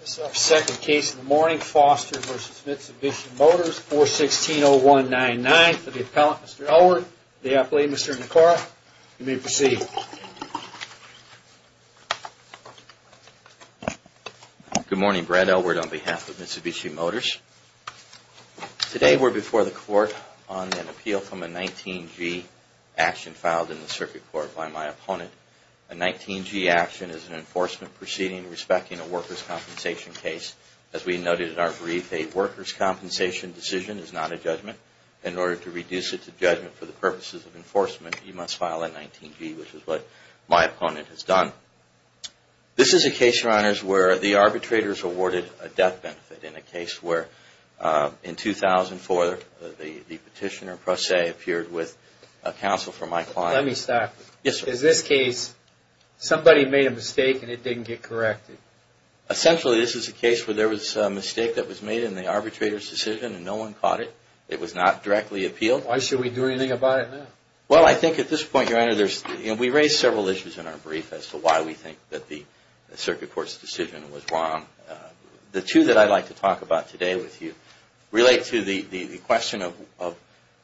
This is our second case of the morning, Foster v. Mitsubishi Motors, 416-0199, for the appellant, Mr. Elwood, and the appellee, Mr. Nakora. You may proceed. Good morning, Brad Elwood, on behalf of Mitsubishi Motors. Today we're before the court on an appeal from a 19-G action filed in the circuit court by my opponent. A 19-G action is an enforcement proceeding respecting a workers' compensation case. As we noted in our brief, a workers' compensation decision is not a judgment. In order to reduce it to judgment for the purposes of enforcement, you must file a 19-G, which is what my opponent has done. This is a case, Your Honors, where the arbitrators awarded a death benefit in a case where, in 2004, the petitioner, Pro Se, appeared with counsel for my client. Let me stop you. In this case, somebody made a mistake and it didn't get corrected. Essentially, this is a case where there was a mistake that was made in the arbitrator's decision and no one caught it. It was not directly appealed. Why should we do anything about it now? Well, I think at this point, Your Honor, we raised several issues in our brief as to why we think that the circuit court's decision was wrong. The two that I'd like to talk about today with you relate to the question of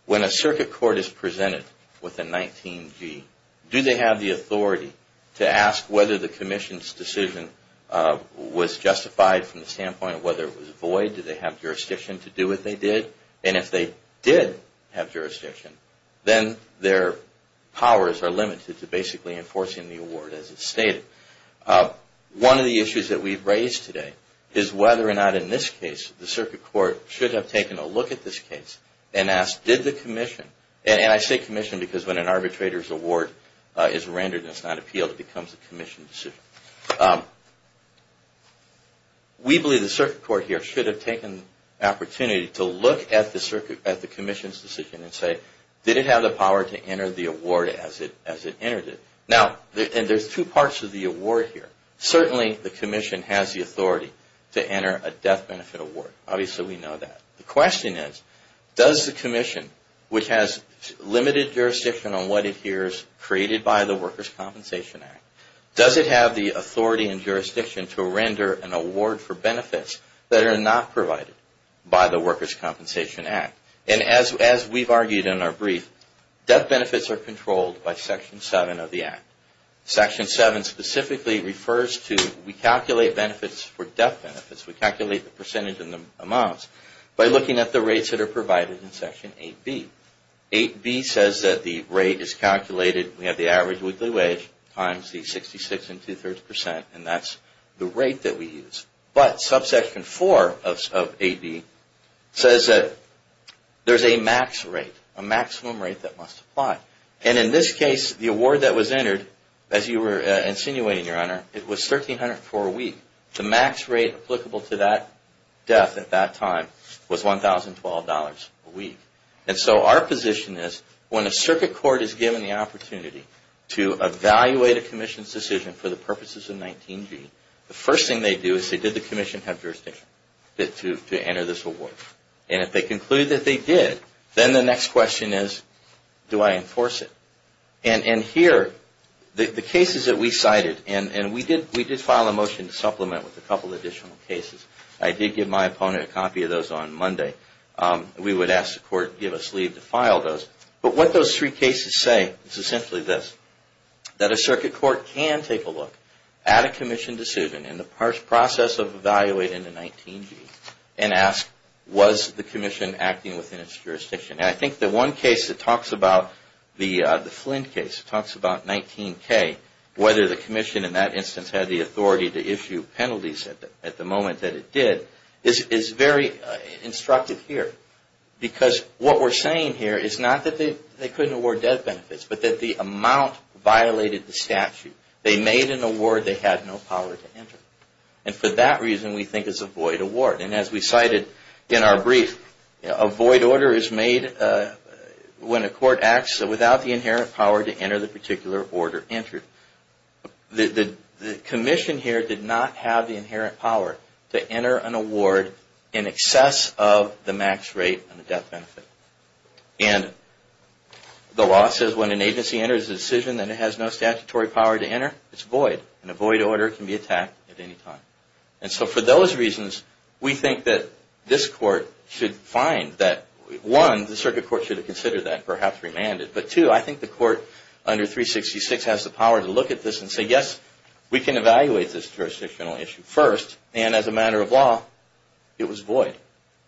when a circuit court is presented with a 19-G, do they have the authority to ask whether the commission's decision was justified from the standpoint of whether it was void? Did they have jurisdiction to do what they did? And if they did have jurisdiction, then their powers are limited to basically enforcing the award as it stated. One of the issues that we've raised today is whether or not, in this case, the circuit court should have taken a look at this case and asked, did the commission, and I say commission because when an arbitrator's award is rendered and it's not appealed, it becomes a commission decision. We believe the circuit court here should have taken the opportunity to look at the commission's decision and say, did it have the power to enter the award as it entered it? Now, and there's two parts of the award here. Certainly, the commission has the authority to enter a death benefit award. Obviously, we know that. The question is, does the commission, which has limited jurisdiction on what it hears created by the Workers' Compensation Act, does it have the authority and jurisdiction to render an award for benefits that are not provided by the Workers' Compensation Act? And as we've argued in our brief, death benefits are controlled by Section 7 of the Act. Section 7 specifically refers to, we calculate benefits for death benefits. We calculate the percentage and the amounts by looking at the rates that are provided in Section 8B. 8B says that the rate is calculated, we have the average weekly wage times the 66 and two-thirds percent, and that's the rate that we use. But Subsection 4 of 8B says that there's a max rate, a maximum rate that must apply. And in this case, the award that was entered, as you were insinuating, Your Honor, it was $1,304 a week. The max rate applicable to that death at that time was $1,012 a week. And so our position is, when a circuit court is given the opportunity to evaluate a commission's decision for the purposes of 19G, the first thing they do is say, did the commission have jurisdiction to enter this award? And if they conclude that they did, then the next question is, do I enforce it? And here, the cases that we cited, and we did file a motion to supplement with a couple additional cases. I did give my opponent a copy of those on Monday. We would ask the Court to give us leave to file those. But what those three cases say is essentially this. That a circuit court can take a look at a commission decision in the process of evaluating the 19G and ask, was the commission acting within its jurisdiction? And I think the one case that talks about, the Flynn case, talks about 19K, whether the commission in that instance had the authority to issue penalties at the moment that it did, is very instructive here. Because what we're saying here is not that they couldn't award death benefits, but that the amount violated the statute. They made an award they had no power to enter. And for that reason, we think it's a void award. And as we cited in our brief, a void order is made when a court acts without the inherent power to enter the particular order entered. The commission here did not have the inherent power to enter an award in excess of the max rate on the death benefit. And the law says when an agency enters a decision that it has no statutory power to enter, it's void. And a void order can be attacked at any time. And so for those reasons, we think that this Court should find that, one, the circuit court should have considered that and perhaps remanded. But two, I think the Court under 366 has the power to look at this and say, yes, we can evaluate this jurisdictional issue first. And as a matter of law, it was void.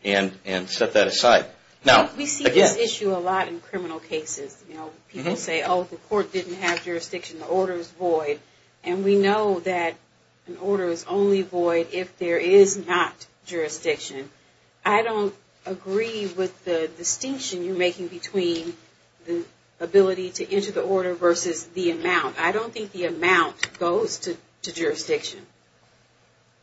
And set that aside. Now, again. We see this issue a lot in criminal cases. You know, people say, oh, the Court didn't have jurisdiction, the order is void. And we know that an order is only void if there is not jurisdiction. I don't agree with the distinction you're making between the ability to enter the order versus the amount. I don't think the amount goes to jurisdiction.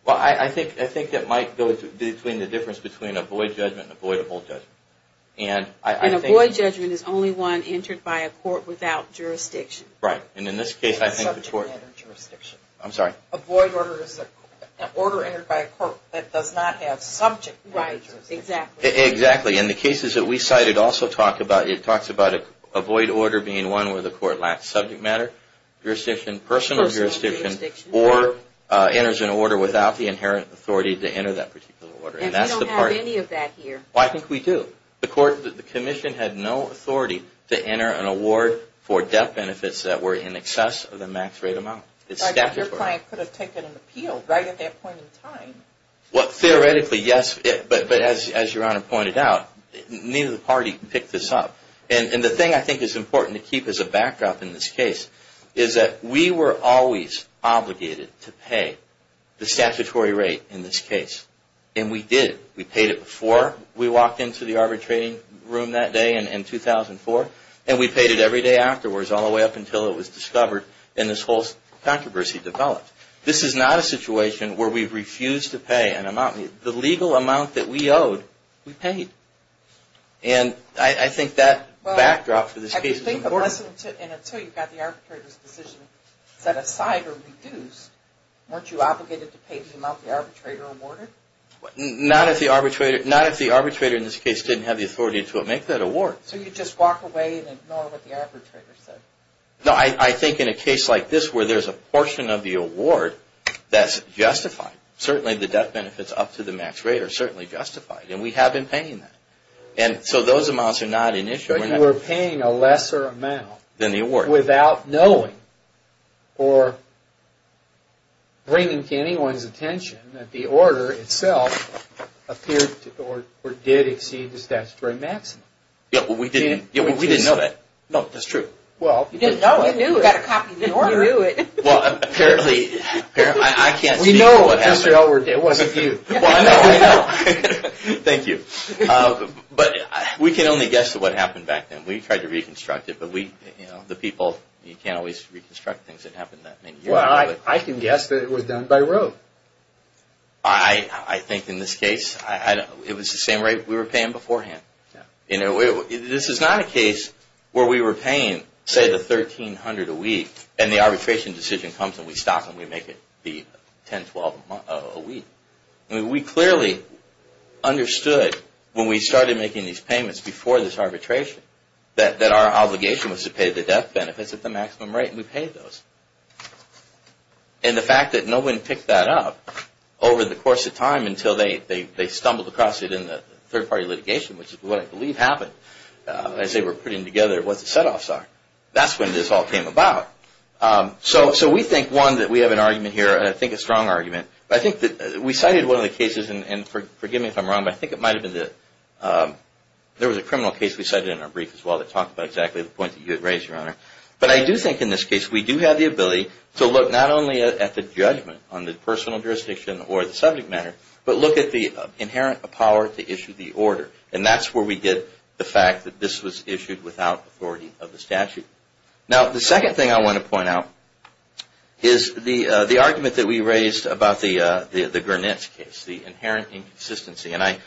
Well, I think it might go between the difference between a void judgment and a voidable judgment. And a void judgment is only one entered by a court without jurisdiction. Right. And in this case, I think the Court. It's subject to jurisdiction. I'm sorry. A void order is an order entered by a court that does not have subject to jurisdiction. Right, exactly. Exactly. And the cases that we cited also talk about. It talks about a void order being one where the Court lacks subject matter, jurisdiction, personal jurisdiction, or enters an order without the inherent authority to enter that particular order. And we don't have any of that here. Well, I think we do. The Commission had no authority to enter an award for debt benefits that were in excess of the max rate amount. It's statutory. Your client could have taken an appeal right at that point in time. Well, theoretically, yes. But as Your Honor pointed out, neither party picked this up. And the thing I think is important to keep as a backup in this case is that we were always obligated to pay the statutory rate in this case. And we did. We paid it before we walked into the arbitrating room that day in 2004. And we paid it every day afterwards all the way up until it was discovered and this whole controversy developed. This is not a situation where we refuse to pay an amount. The legal amount that we owed, we paid. And I think that backdrop for this case is important. And until you got the arbitrator's decision set aside or reduced, weren't you obligated to pay the amount the arbitrator awarded? Not if the arbitrator in this case didn't have the authority to make that award. So you just walk away and ignore what the arbitrator said? No, I think in a case like this where there's a portion of the award that's justified, certainly the death benefits up to the max rate are certainly justified. And we have been paying that. And so those amounts are not an issue. But you were paying a lesser amount without knowing or bringing to anyone's attention that the order itself appeared or did exceed the statutory maximum. Yeah, but we didn't know that. No, that's true. Well, you didn't know it. You got a copy of the order. You knew it. Well, apparently, I can't speak to what happened. We know it wasn't you. Well, I know. Thank you. You're welcome. But we can only guess what happened back then. We tried to reconstruct it. But we, you know, the people, you can't always reconstruct things that happened that many years ago. Well, I can guess that it was done by Roe. I think in this case, it was the same rate we were paying beforehand. You know, this is not a case where we were paying, say, the $1,300 a week and the arbitration decision comes and we stop and we make it the $1,012 a week. I mean, we clearly understood when we started making these payments before this arbitration that our obligation was to pay the death benefits at the maximum rate. And we paid those. And the fact that no one picked that up over the course of time until they stumbled across it in the third-party litigation, which is what I believe happened as they were putting together what the setoffs are, that's when this all came about. So we think, one, that we have an argument here, I think a strong argument. I think that we cited one of the cases, and forgive me if I'm wrong, but I think it might have been the – there was a criminal case we cited in our brief as well that talked about exactly the point that you had raised, Your Honor. But I do think in this case we do have the ability to look not only at the judgment on the personal jurisdiction or the subject matter, but look at the inherent power to issue the order. And that's where we get the fact that this was issued without authority of the statute. Now, the second thing I want to point out is the argument that we raised about the Gurnitz case, the inherent inconsistency. And I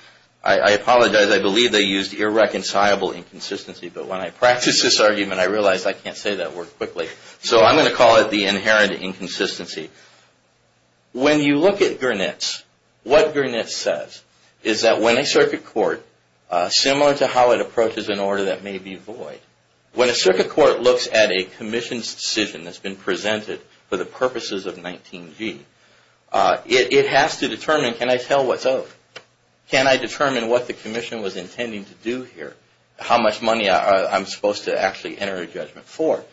apologize, I believe they used irreconcilable inconsistency. But when I practiced this argument, I realized I can't say that word quickly. So I'm going to call it the inherent inconsistency. When you look at Gurnitz, what Gurnitz says is that when a circuit court, similar to how it approaches an order that may be void, when a circuit court looks at a commission's decision that's been presented for the purposes of 19G, it has to determine, can I tell what's owed? Can I determine what the commission was intending to do here? How much money I'm supposed to actually enter a judgment for?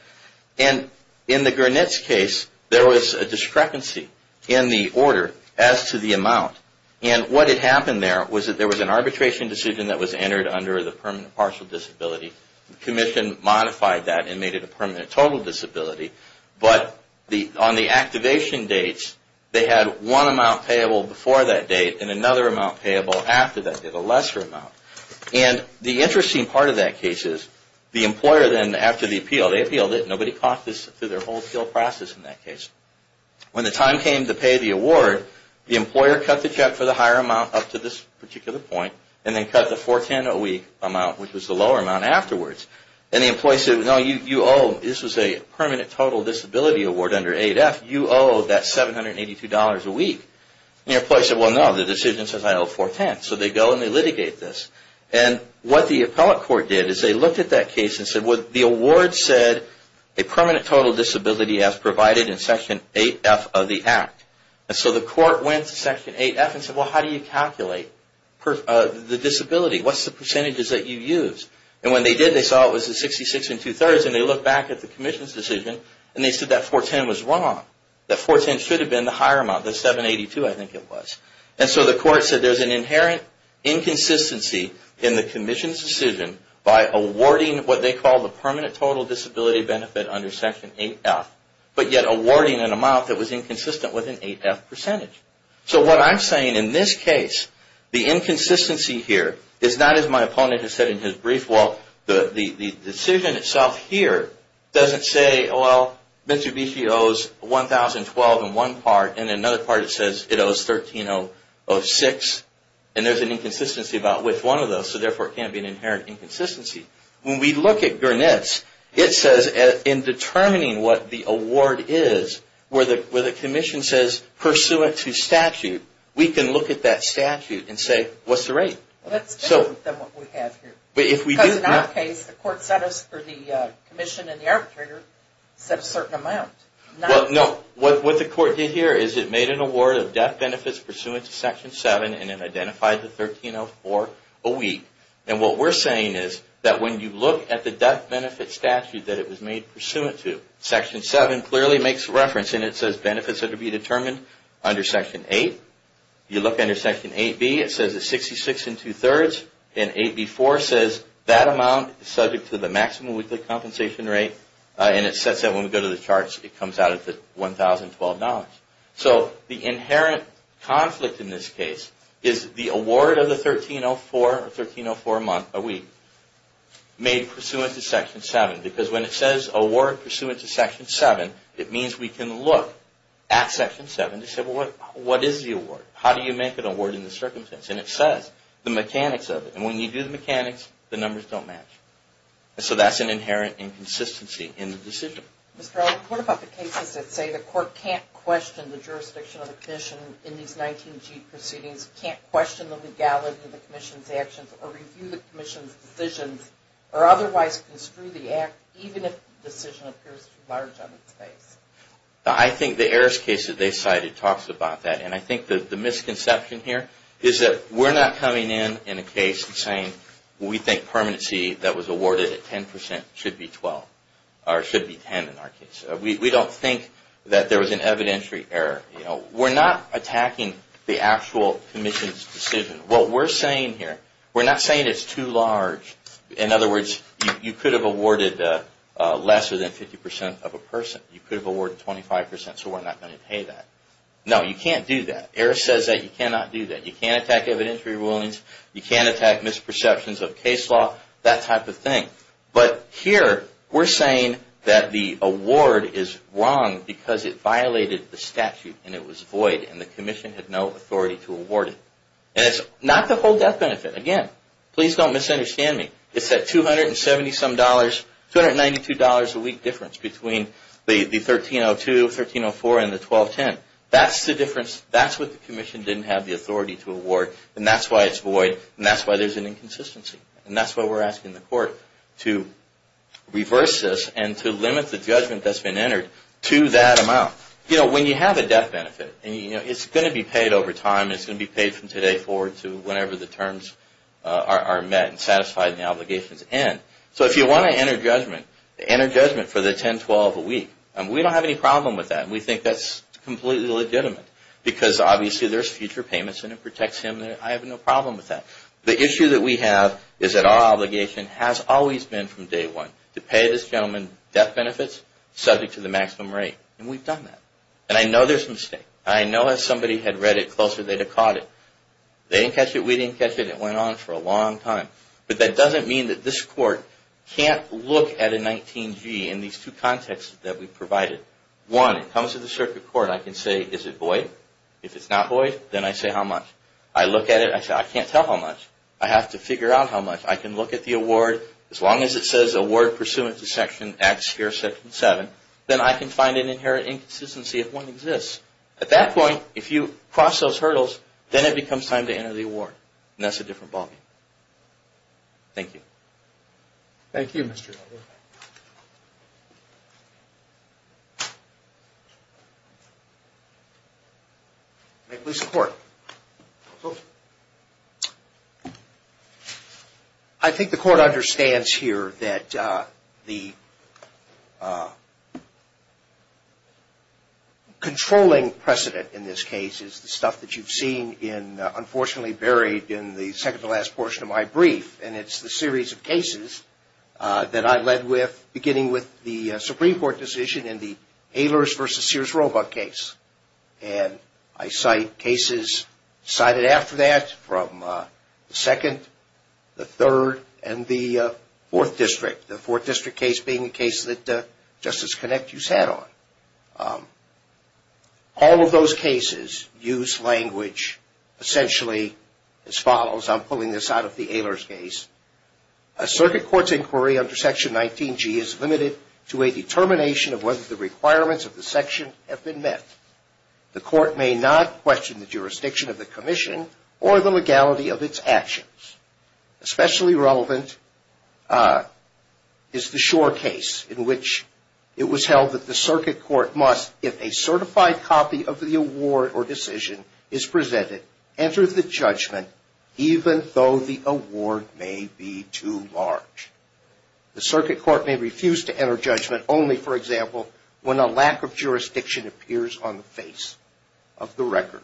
And in the Gurnitz case, there was a discrepancy in the order as to the amount. And what had happened there was that there was an arbitration decision that was entered under the permanent partial disability. The commission modified that and made it a permanent total disability. But on the activation dates, they had one amount payable before that date and another amount payable after that date, a lesser amount. And the interesting part of that case is the employer then, after the appeal, they appealed it. Nobody caught this through their whole appeal process in that case. When the time came to pay the award, the employer cut the check for the higher amount up to this particular point and then cut the 410OE amount, which was the lower amount, afterwards. And the employee said, no, you owe, this was a permanent total disability award under 8F. You owe that $782 a week. And the employee said, well, no, the decision says I owe 410. So they go and they litigate this. And what the appellate court did is they looked at that case and said, well, the award said a permanent total disability as provided in Section 8F of the Act. And so the court went to Section 8F and said, well, how do you calculate the disability? What's the percentages that you use? And when they did, they saw it was the 66 and two-thirds, and they looked back at the commission's decision and they said that 410 was wrong. That 410 should have been the higher amount, the 782, I think it was. And so the court said there's an inherent inconsistency in the commission's decision by awarding what they call the permanent total disability benefit under Section 8F, but yet awarding an amount that was inconsistent with an 8F percentage. So what I'm saying in this case, the inconsistency here is not as my opponent has said in his brief. Well, the decision itself here doesn't say, well, Mr. Bichy owes 1,012 in one part, and in another part it says it owes 1,306, and there's an inconsistency about which one of those, so therefore it can't be an inherent inconsistency. When we look at Gurnett's, it says in determining what the award is, where the commission says pursuant to statute, we can look at that statute and say, what's the rate? That's different than what we have here. Because in our case, the commission and the arbitrator set a certain amount. No, what the court did here is it made an award of death benefits pursuant to Section 7 and it identified the 1,304 a week. And what we're saying is that when you look at the death benefit statute that it was made pursuant to, Section 7 clearly makes reference and it says benefits are to be determined under Section 8. You look under Section 8B, it says it's 66 and two-thirds, and 8B4 says that amount is subject to the maximum weekly compensation rate, and it sets that when we go to the charts, it comes out at the 1,012 dollars. So the inherent conflict in this case is the award of the 1,304, or 1,304 a week, made pursuant to Section 7. Because when it says award pursuant to Section 7, it means we can look at Section 7 to say, well, what is the award? How do you make an award in this circumstance? And it says the mechanics of it. And when you do the mechanics, the numbers don't match. So that's an inherent inconsistency in the decision. Mr. Arnold, what about the cases that say the court can't question the jurisdiction of the commission in these 19G proceedings, can't question the legality of the commission's actions, or review the commission's decisions, or otherwise construe the act, even if the decision appears too large on its face? I think the heiress case that they cited talks about that, and I think the misconception here is that we're not coming in in a case and saying, we think permanency that was awarded at 10 percent should be 10 in our case. We don't think that there was an evidentiary error. We're not attacking the actual commission's decision. What we're saying here, we're not saying it's too large. In other words, you could have awarded less than 50 percent of a person. You could have awarded 25 percent, so we're not going to pay that. No, you can't do that. The heiress says that you cannot do that. You can't attack evidentiary rulings. You can't attack misperceptions of case law, that type of thing. But here, we're saying that the award is wrong because it violated the statute, and it was void, and the commission had no authority to award it. And it's not the whole death benefit. Again, please don't misunderstand me. It's that $270 some dollars, $292 a week difference between the 1302, 1304, and the 1210. That's the difference. That's what the commission didn't have the authority to award, and that's why it's void, and that's why there's an inconsistency. And that's why we're asking the court to reverse this and to limit the judgment that's been entered to that amount. When you have a death benefit, it's going to be paid over time. It's going to be paid from today forward to whenever the terms are met and satisfied and the obligations end. So if you want to enter judgment, enter judgment for the 1012 a week. We don't have any problem with that, and we think that's completely legitimate because obviously there's future payments, and it protects him. I have no problem with that. The issue that we have is that our obligation has always been from day one to pay this gentleman death benefits subject to the maximum rate, and we've done that. And I know there's mistake. I know if somebody had read it closer, they'd have caught it. They didn't catch it. We didn't catch it. It went on for a long time. But that doesn't mean that this court can't look at a 19-G in these two contexts that we've provided. One, it comes to the circuit court. I can say, is it void? If it's not void, then I say how much? I look at it. I say, I can't tell how much. I have to figure out how much. I can look at the award. As long as it says award pursuant to section X here, section 7, then I can find an inherent inconsistency if one exists. At that point, if you cross those hurdles, then it becomes time to enter the award. And that's a different ballgame. Thank you. Thank you, Mr. Butler. May it please the Court. Go ahead. I think the Court understands here that the controlling precedent in this case is the stuff that you've seen in, unfortunately, buried in the second-to-last portion of my brief, and it's the series of cases that I led with beginning with the Supreme Court decision in the Ehlers versus Sears Roebuck case. And I cite cases cited after that from the second, the third, and the fourth district, the fourth district case being the case that Justice Connick used to head on. All of those cases use language essentially as follows. I'm pulling this out of the Ehlers case. A circuit court's inquiry under section 19G is limited to a determination of whether the requirements of the section have been met. The court may not question the jurisdiction of the commission or the legality of its actions. Especially relevant is the Shore case in which it was held that the circuit court must, if a certified copy of the award or decision is presented, enter the judgment even though the award may be too large. The circuit court may refuse to enter judgment only, for example, when a lack of jurisdiction appears on the face of the record,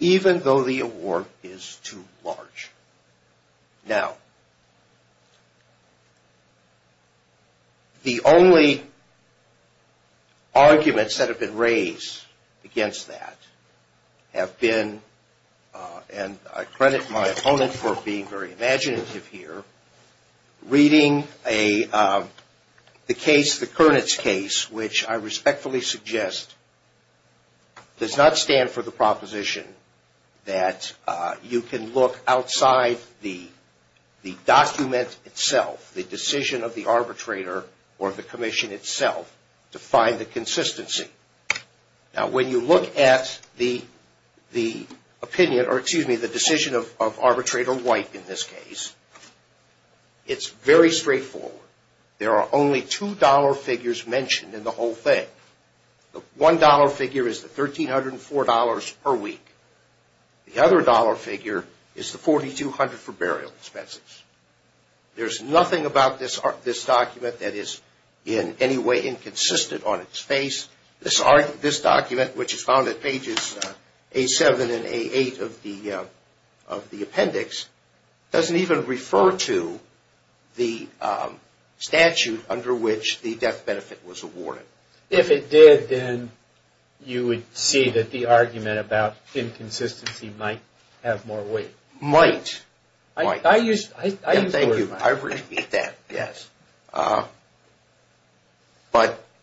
even though the award is too large. Now, the only arguments that have been raised against that have been, and I credit my opponent for being very imaginative here, reading the case, the Kurnitz case, which I respectfully suggest does not stand for the proposition that you can look outside the document itself, the decision of the arbitrator or the commission itself, to find the consistency. Now, when you look at the opinion, or excuse me, the decision of arbitrator White in this case, it's very straightforward. There are only two dollar figures mentioned in the whole thing. The one dollar figure is the $1,304 per week. The other dollar figure is the $4,200 for burial expenses. There's nothing about this document that is in any way inconsistent on its face. This document, which is found at pages A7 and A8 of the appendix, doesn't even refer to the statute under which the death benefit was awarded. If it did, then you would see that the argument about inconsistency might have more weight. Might, might. I use the word might. Thank you. I repeat that, yes. But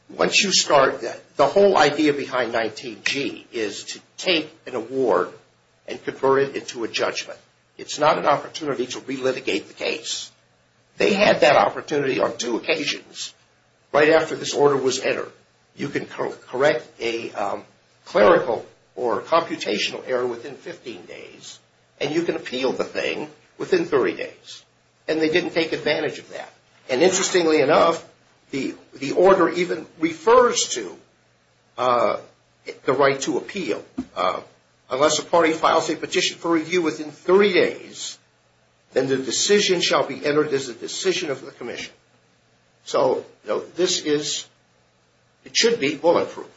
once you start, the whole idea behind 19G is to take an award and convert it into a judgment. It's not an opportunity to relitigate the case. They had that opportunity on two occasions. Right after this order was entered, you can correct a clerical or computational error within 15 days, and you can appeal the thing within 30 days. And they didn't take advantage of that. And interestingly enough, the order even refers to the right to appeal. Unless a party files a petition for review within 30 days, then the decision shall be entered as a decision of the commission. So this is, it should be bulletproof.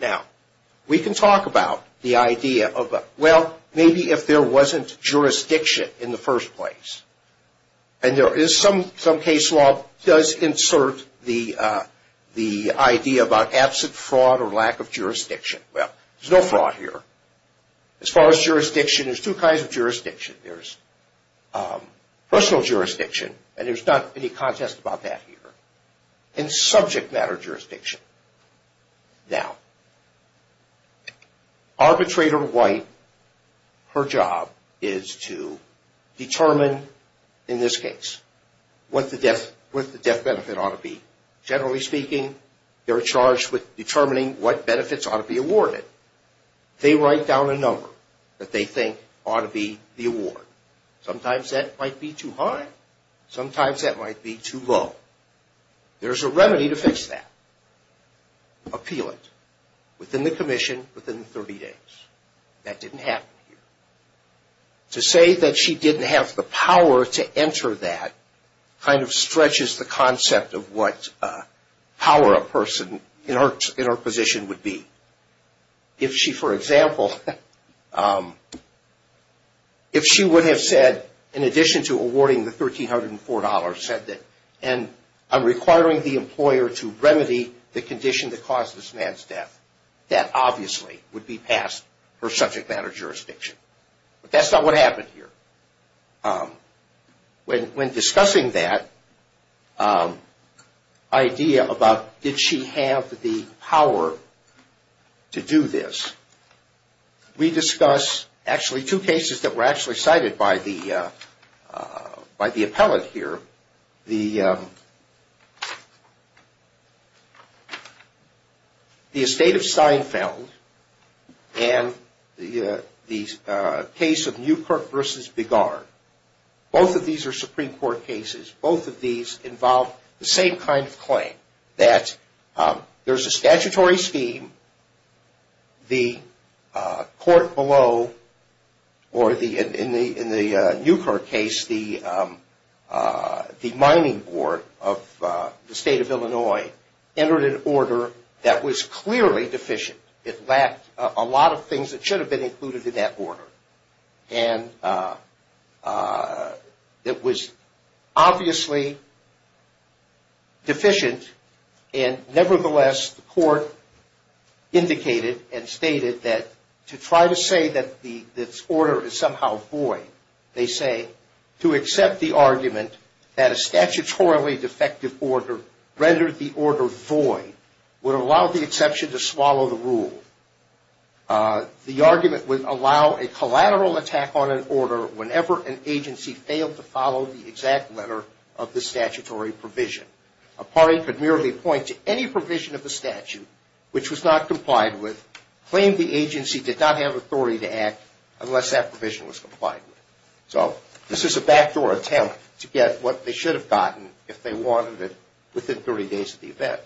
Now, we can talk about the idea of, well, maybe if there wasn't jurisdiction in the first place, and there is some case law that does insert the idea about absent fraud or lack of jurisdiction. Well, there's no fraud here. As far as jurisdiction, there's two kinds of jurisdiction. There's personal jurisdiction, and there's not any contest about that here, and subject matter jurisdiction. Now, arbitrator White, her job is to determine, in this case, what the death benefit ought to be. Generally speaking, they're charged with determining what benefits ought to be awarded. They write down a number that they think ought to be the award. Sometimes that might be too high. Sometimes that might be too low. There's a remedy to fix that. Appeal it within the commission within 30 days. That didn't happen here. To say that she didn't have the power to enter that kind of stretches the concept of what power a person in her position would be. If she, for example, if she would have said, in addition to awarding the $1,304, said that, and I'm requiring the employer to remedy the condition that caused this man's death, that obviously would be past her subject matter jurisdiction. But that's not what happened here. When discussing that idea about did she have the power to do this, we discuss actually two cases that were actually cited by the appellate here, the estate of Seinfeld and the case of Newkirk v. Begar. Both of these are Supreme Court cases. Both of these involve the same kind of claim, that there's a statutory scheme. The court below, or in the Newkirk case, the mining board of the state of Illinois entered an order that was clearly deficient. It lacked a lot of things that should have been included in that order. And it was obviously deficient. And nevertheless, the court indicated and stated that to try to say that the order is somehow void, they say to accept the argument that a statutorily defective order rendered the order void would allow the exception to swallow the rule. The argument would allow a collateral attack on an order whenever an agency failed to follow the exact letter of the statutory provision. A party could merely point to any provision of the statute which was not complied with, claim the agency did not have authority to act unless that provision was complied with. So this is a backdoor attempt to get what they should have gotten if they wanted it within 30 days of the event.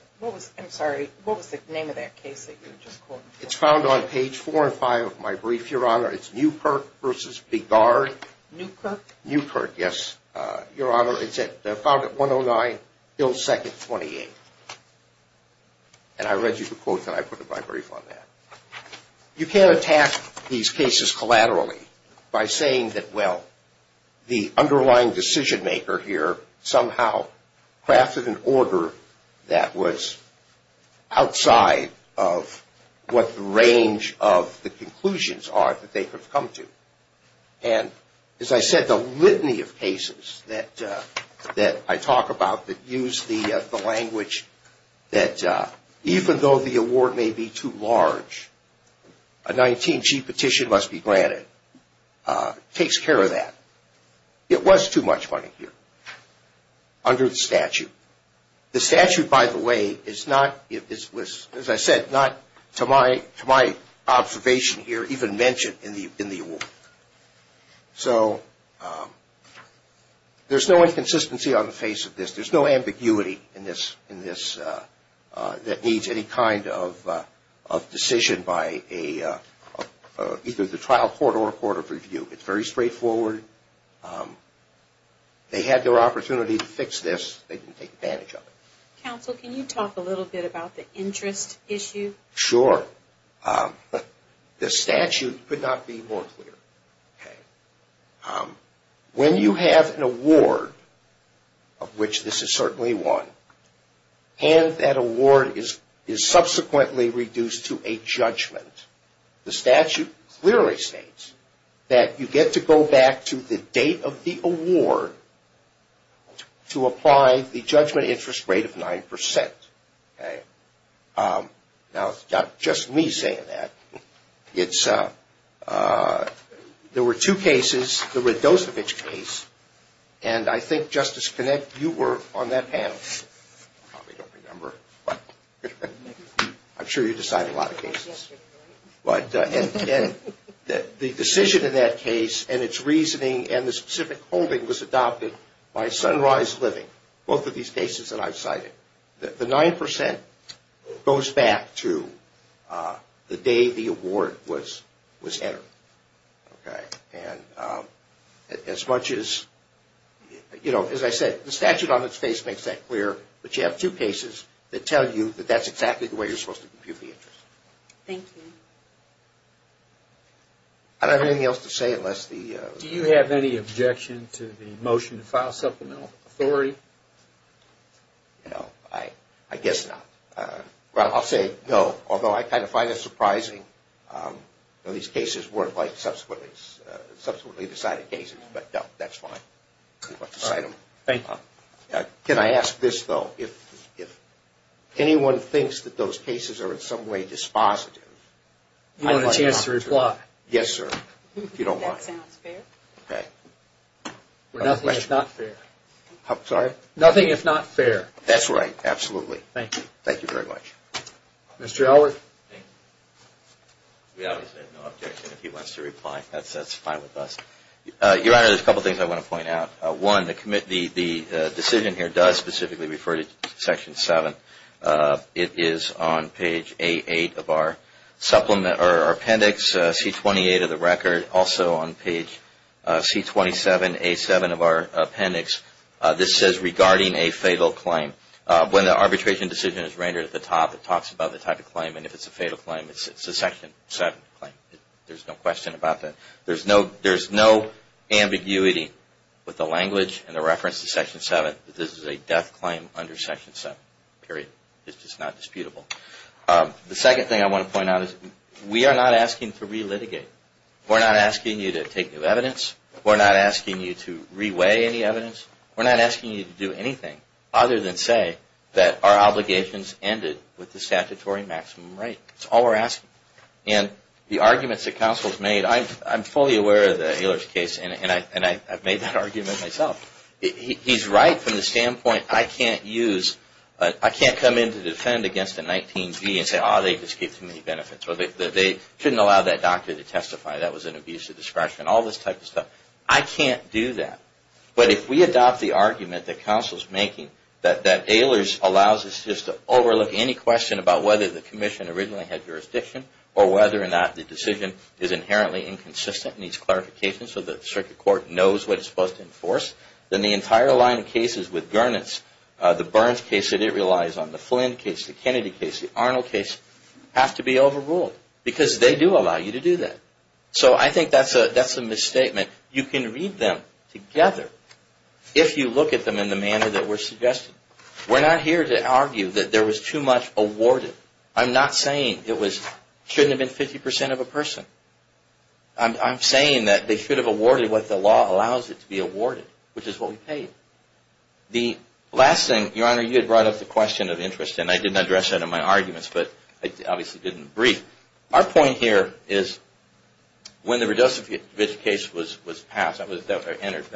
I'm sorry, what was the name of that case that you just quoted? It's found on page four and five of my brief, Your Honor. It's Newkirk v. Beguard. Newkirk? Newkirk, yes, Your Honor. It's found at 109 Hill Second 28. And I read you the quote that I put in my brief on that. You can't attack these cases collaterally by saying that, well, the underlying decision maker here somehow crafted an order that was outside of what the range of the conclusions are that they could have come to. And as I said, the litany of cases that I talk about that use the language that even though the award may be too large, a 19G petition must be granted takes care of that. It was too much money here under the statute. The statute, by the way, is not, as I said, not to my observation here even mentioned in the award. So there's no inconsistency on the face of this. There's no ambiguity in this that needs any kind of decision by either the trial court or a court of review. It's very straightforward. They had their opportunity to fix this. They didn't take advantage of it. Counsel, can you talk a little bit about the interest issue? Sure. The statute could not be more clear. When you have an award, of which this is certainly one, and that award is subsequently reduced to a judgment, the statute clearly states that you get to go back to the date of the award to apply the judgment interest rate of 9%. Now, it's not just me saying that. There were two cases. There was the Dosevich case, and I think, Justice Connett, you were on that panel. I probably don't remember, but I'm sure you decided a lot of cases. And the decision in that case and its reasoning and the specific holding was adopted by Sunrise Living, both of these cases that I've cited. The 9% goes back to the day the award was entered. And as much as, you know, as I said, the statute on its face makes that clear, but you have two cases that tell you that that's exactly the way you're supposed to compute the interest. Thank you. I don't have anything else to say unless the... Do you have any objection to the motion to file supplemental authority? No, I guess not. Well, I'll say no, although I kind of find it surprising. These cases weren't like subsequently decided cases, but no, that's fine. Thank you. Can I ask this, though? If anyone thinks that those cases are in some way dispositive... You have a chance to reply. Yes, sir, if you don't mind. That sounds fair. Okay. Nothing is not fair. Sorry? Nothing is not fair. That's right, absolutely. Thank you. Thank you very much. Mr. Elwood? We obviously have no objection if he wants to reply. That's fine with us. Your Honor, there's a couple of things I want to point out. One, the decision here does specifically refer to Section 7. It is on page A8 of our appendix, C28 of the record. Also on page C27A7 of our appendix, this says regarding a fatal claim. When the arbitration decision is rendered at the top, it talks about the type of claim, and if it's a fatal claim, it's a Section 7 claim. There's no question about that. There's no ambiguity with the language and the reference to Section 7 that this is a death claim under Section 7, period. It's just not disputable. The second thing I want to point out is we are not asking to re-litigate. We're not asking you to take new evidence. We're not asking you to re-weigh any evidence. We're not asking you to do anything other than say that our obligations ended with the statutory maximum right. That's all we're asking. And the arguments that counsel has made, I'm fully aware of the Healers case, and I've made that argument myself. He's right from the standpoint I can't come in to defend against a 19-B and say, oh, they just gave too many benefits, or they shouldn't allow that doctor to testify, that was an abuse of discretion, all this type of stuff. I can't do that. But if we adopt the argument that counsel is making that Healers allows us just to overlook any question about whether the commission originally had jurisdiction or whether or not the decision is inherently inconsistent and needs clarification so the circuit court knows what it's supposed to enforce, then the entire line of cases with Gernitz, the Burns case that it relies on, the Flynn case, the Kennedy case, the Arnold case, have to be overruled because they do allow you to do that. So I think that's a misstatement. You can read them together if you look at them in the manner that we're suggesting. We're not here to argue that there was too much awarded. I'm not saying it shouldn't have been 50% of a person. I'm saying that they should have awarded what the law allows it to be awarded, which is what we paid. The last thing, Your Honor, you had brought up the question of interest, and I didn't address that in my arguments, but I obviously didn't brief. Our point here is when the Redose case was passed, that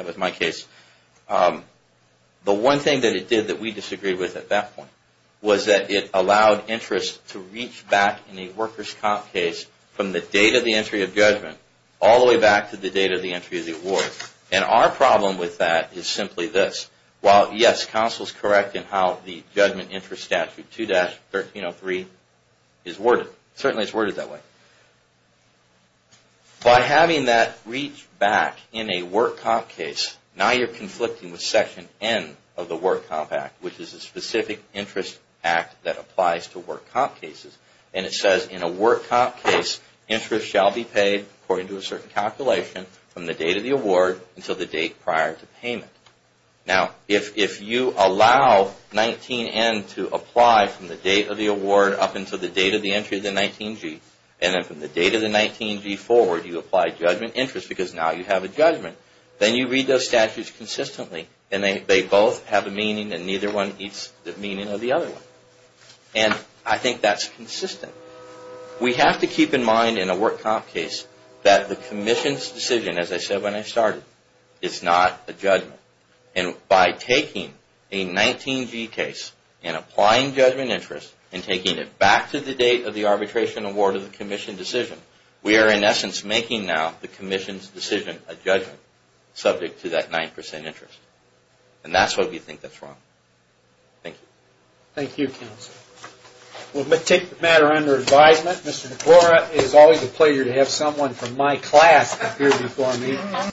was my case, the one thing that it did that we disagreed with at that point was that it allowed interest to reach back in a workers' comp case from the date of the entry of judgment all the way back to the date of the entry of the award. And our problem with that is simply this. While, yes, counsel is correct in how the judgment interest statute 2-1303 is worded. It certainly is worded that way. By having that reach back in a work comp case, now you're conflicting with Section N of the Work Comp Act, which is a specific interest act that applies to work comp cases. And it says in a work comp case, interest shall be paid, according to a certain calculation, from the date of the award until the date prior to payment. Now, if you allow 19N to apply from the date of the award up until the date of the entry of the 19G, and then from the date of the 19G forward, you apply judgment interest because now you have a judgment, then you read those statutes consistently, and they both have a meaning and neither one eats the meaning of the other one. And I think that's consistent. We have to keep in mind in a work comp case that the Commission's decision, as I said when I started, is not a judgment. And by taking a 19G case and applying judgment interest and taking it back to the date of the arbitration award of the Commission decision, we are in essence making now the Commission's decision a judgment subject to that 9% interest. And that's why we think that's wrong. Thank you. Thank you, Counselor. We'll take the matter under advisement. Mr. DeCora, it is always a pleasure to have someone from my class appear before me.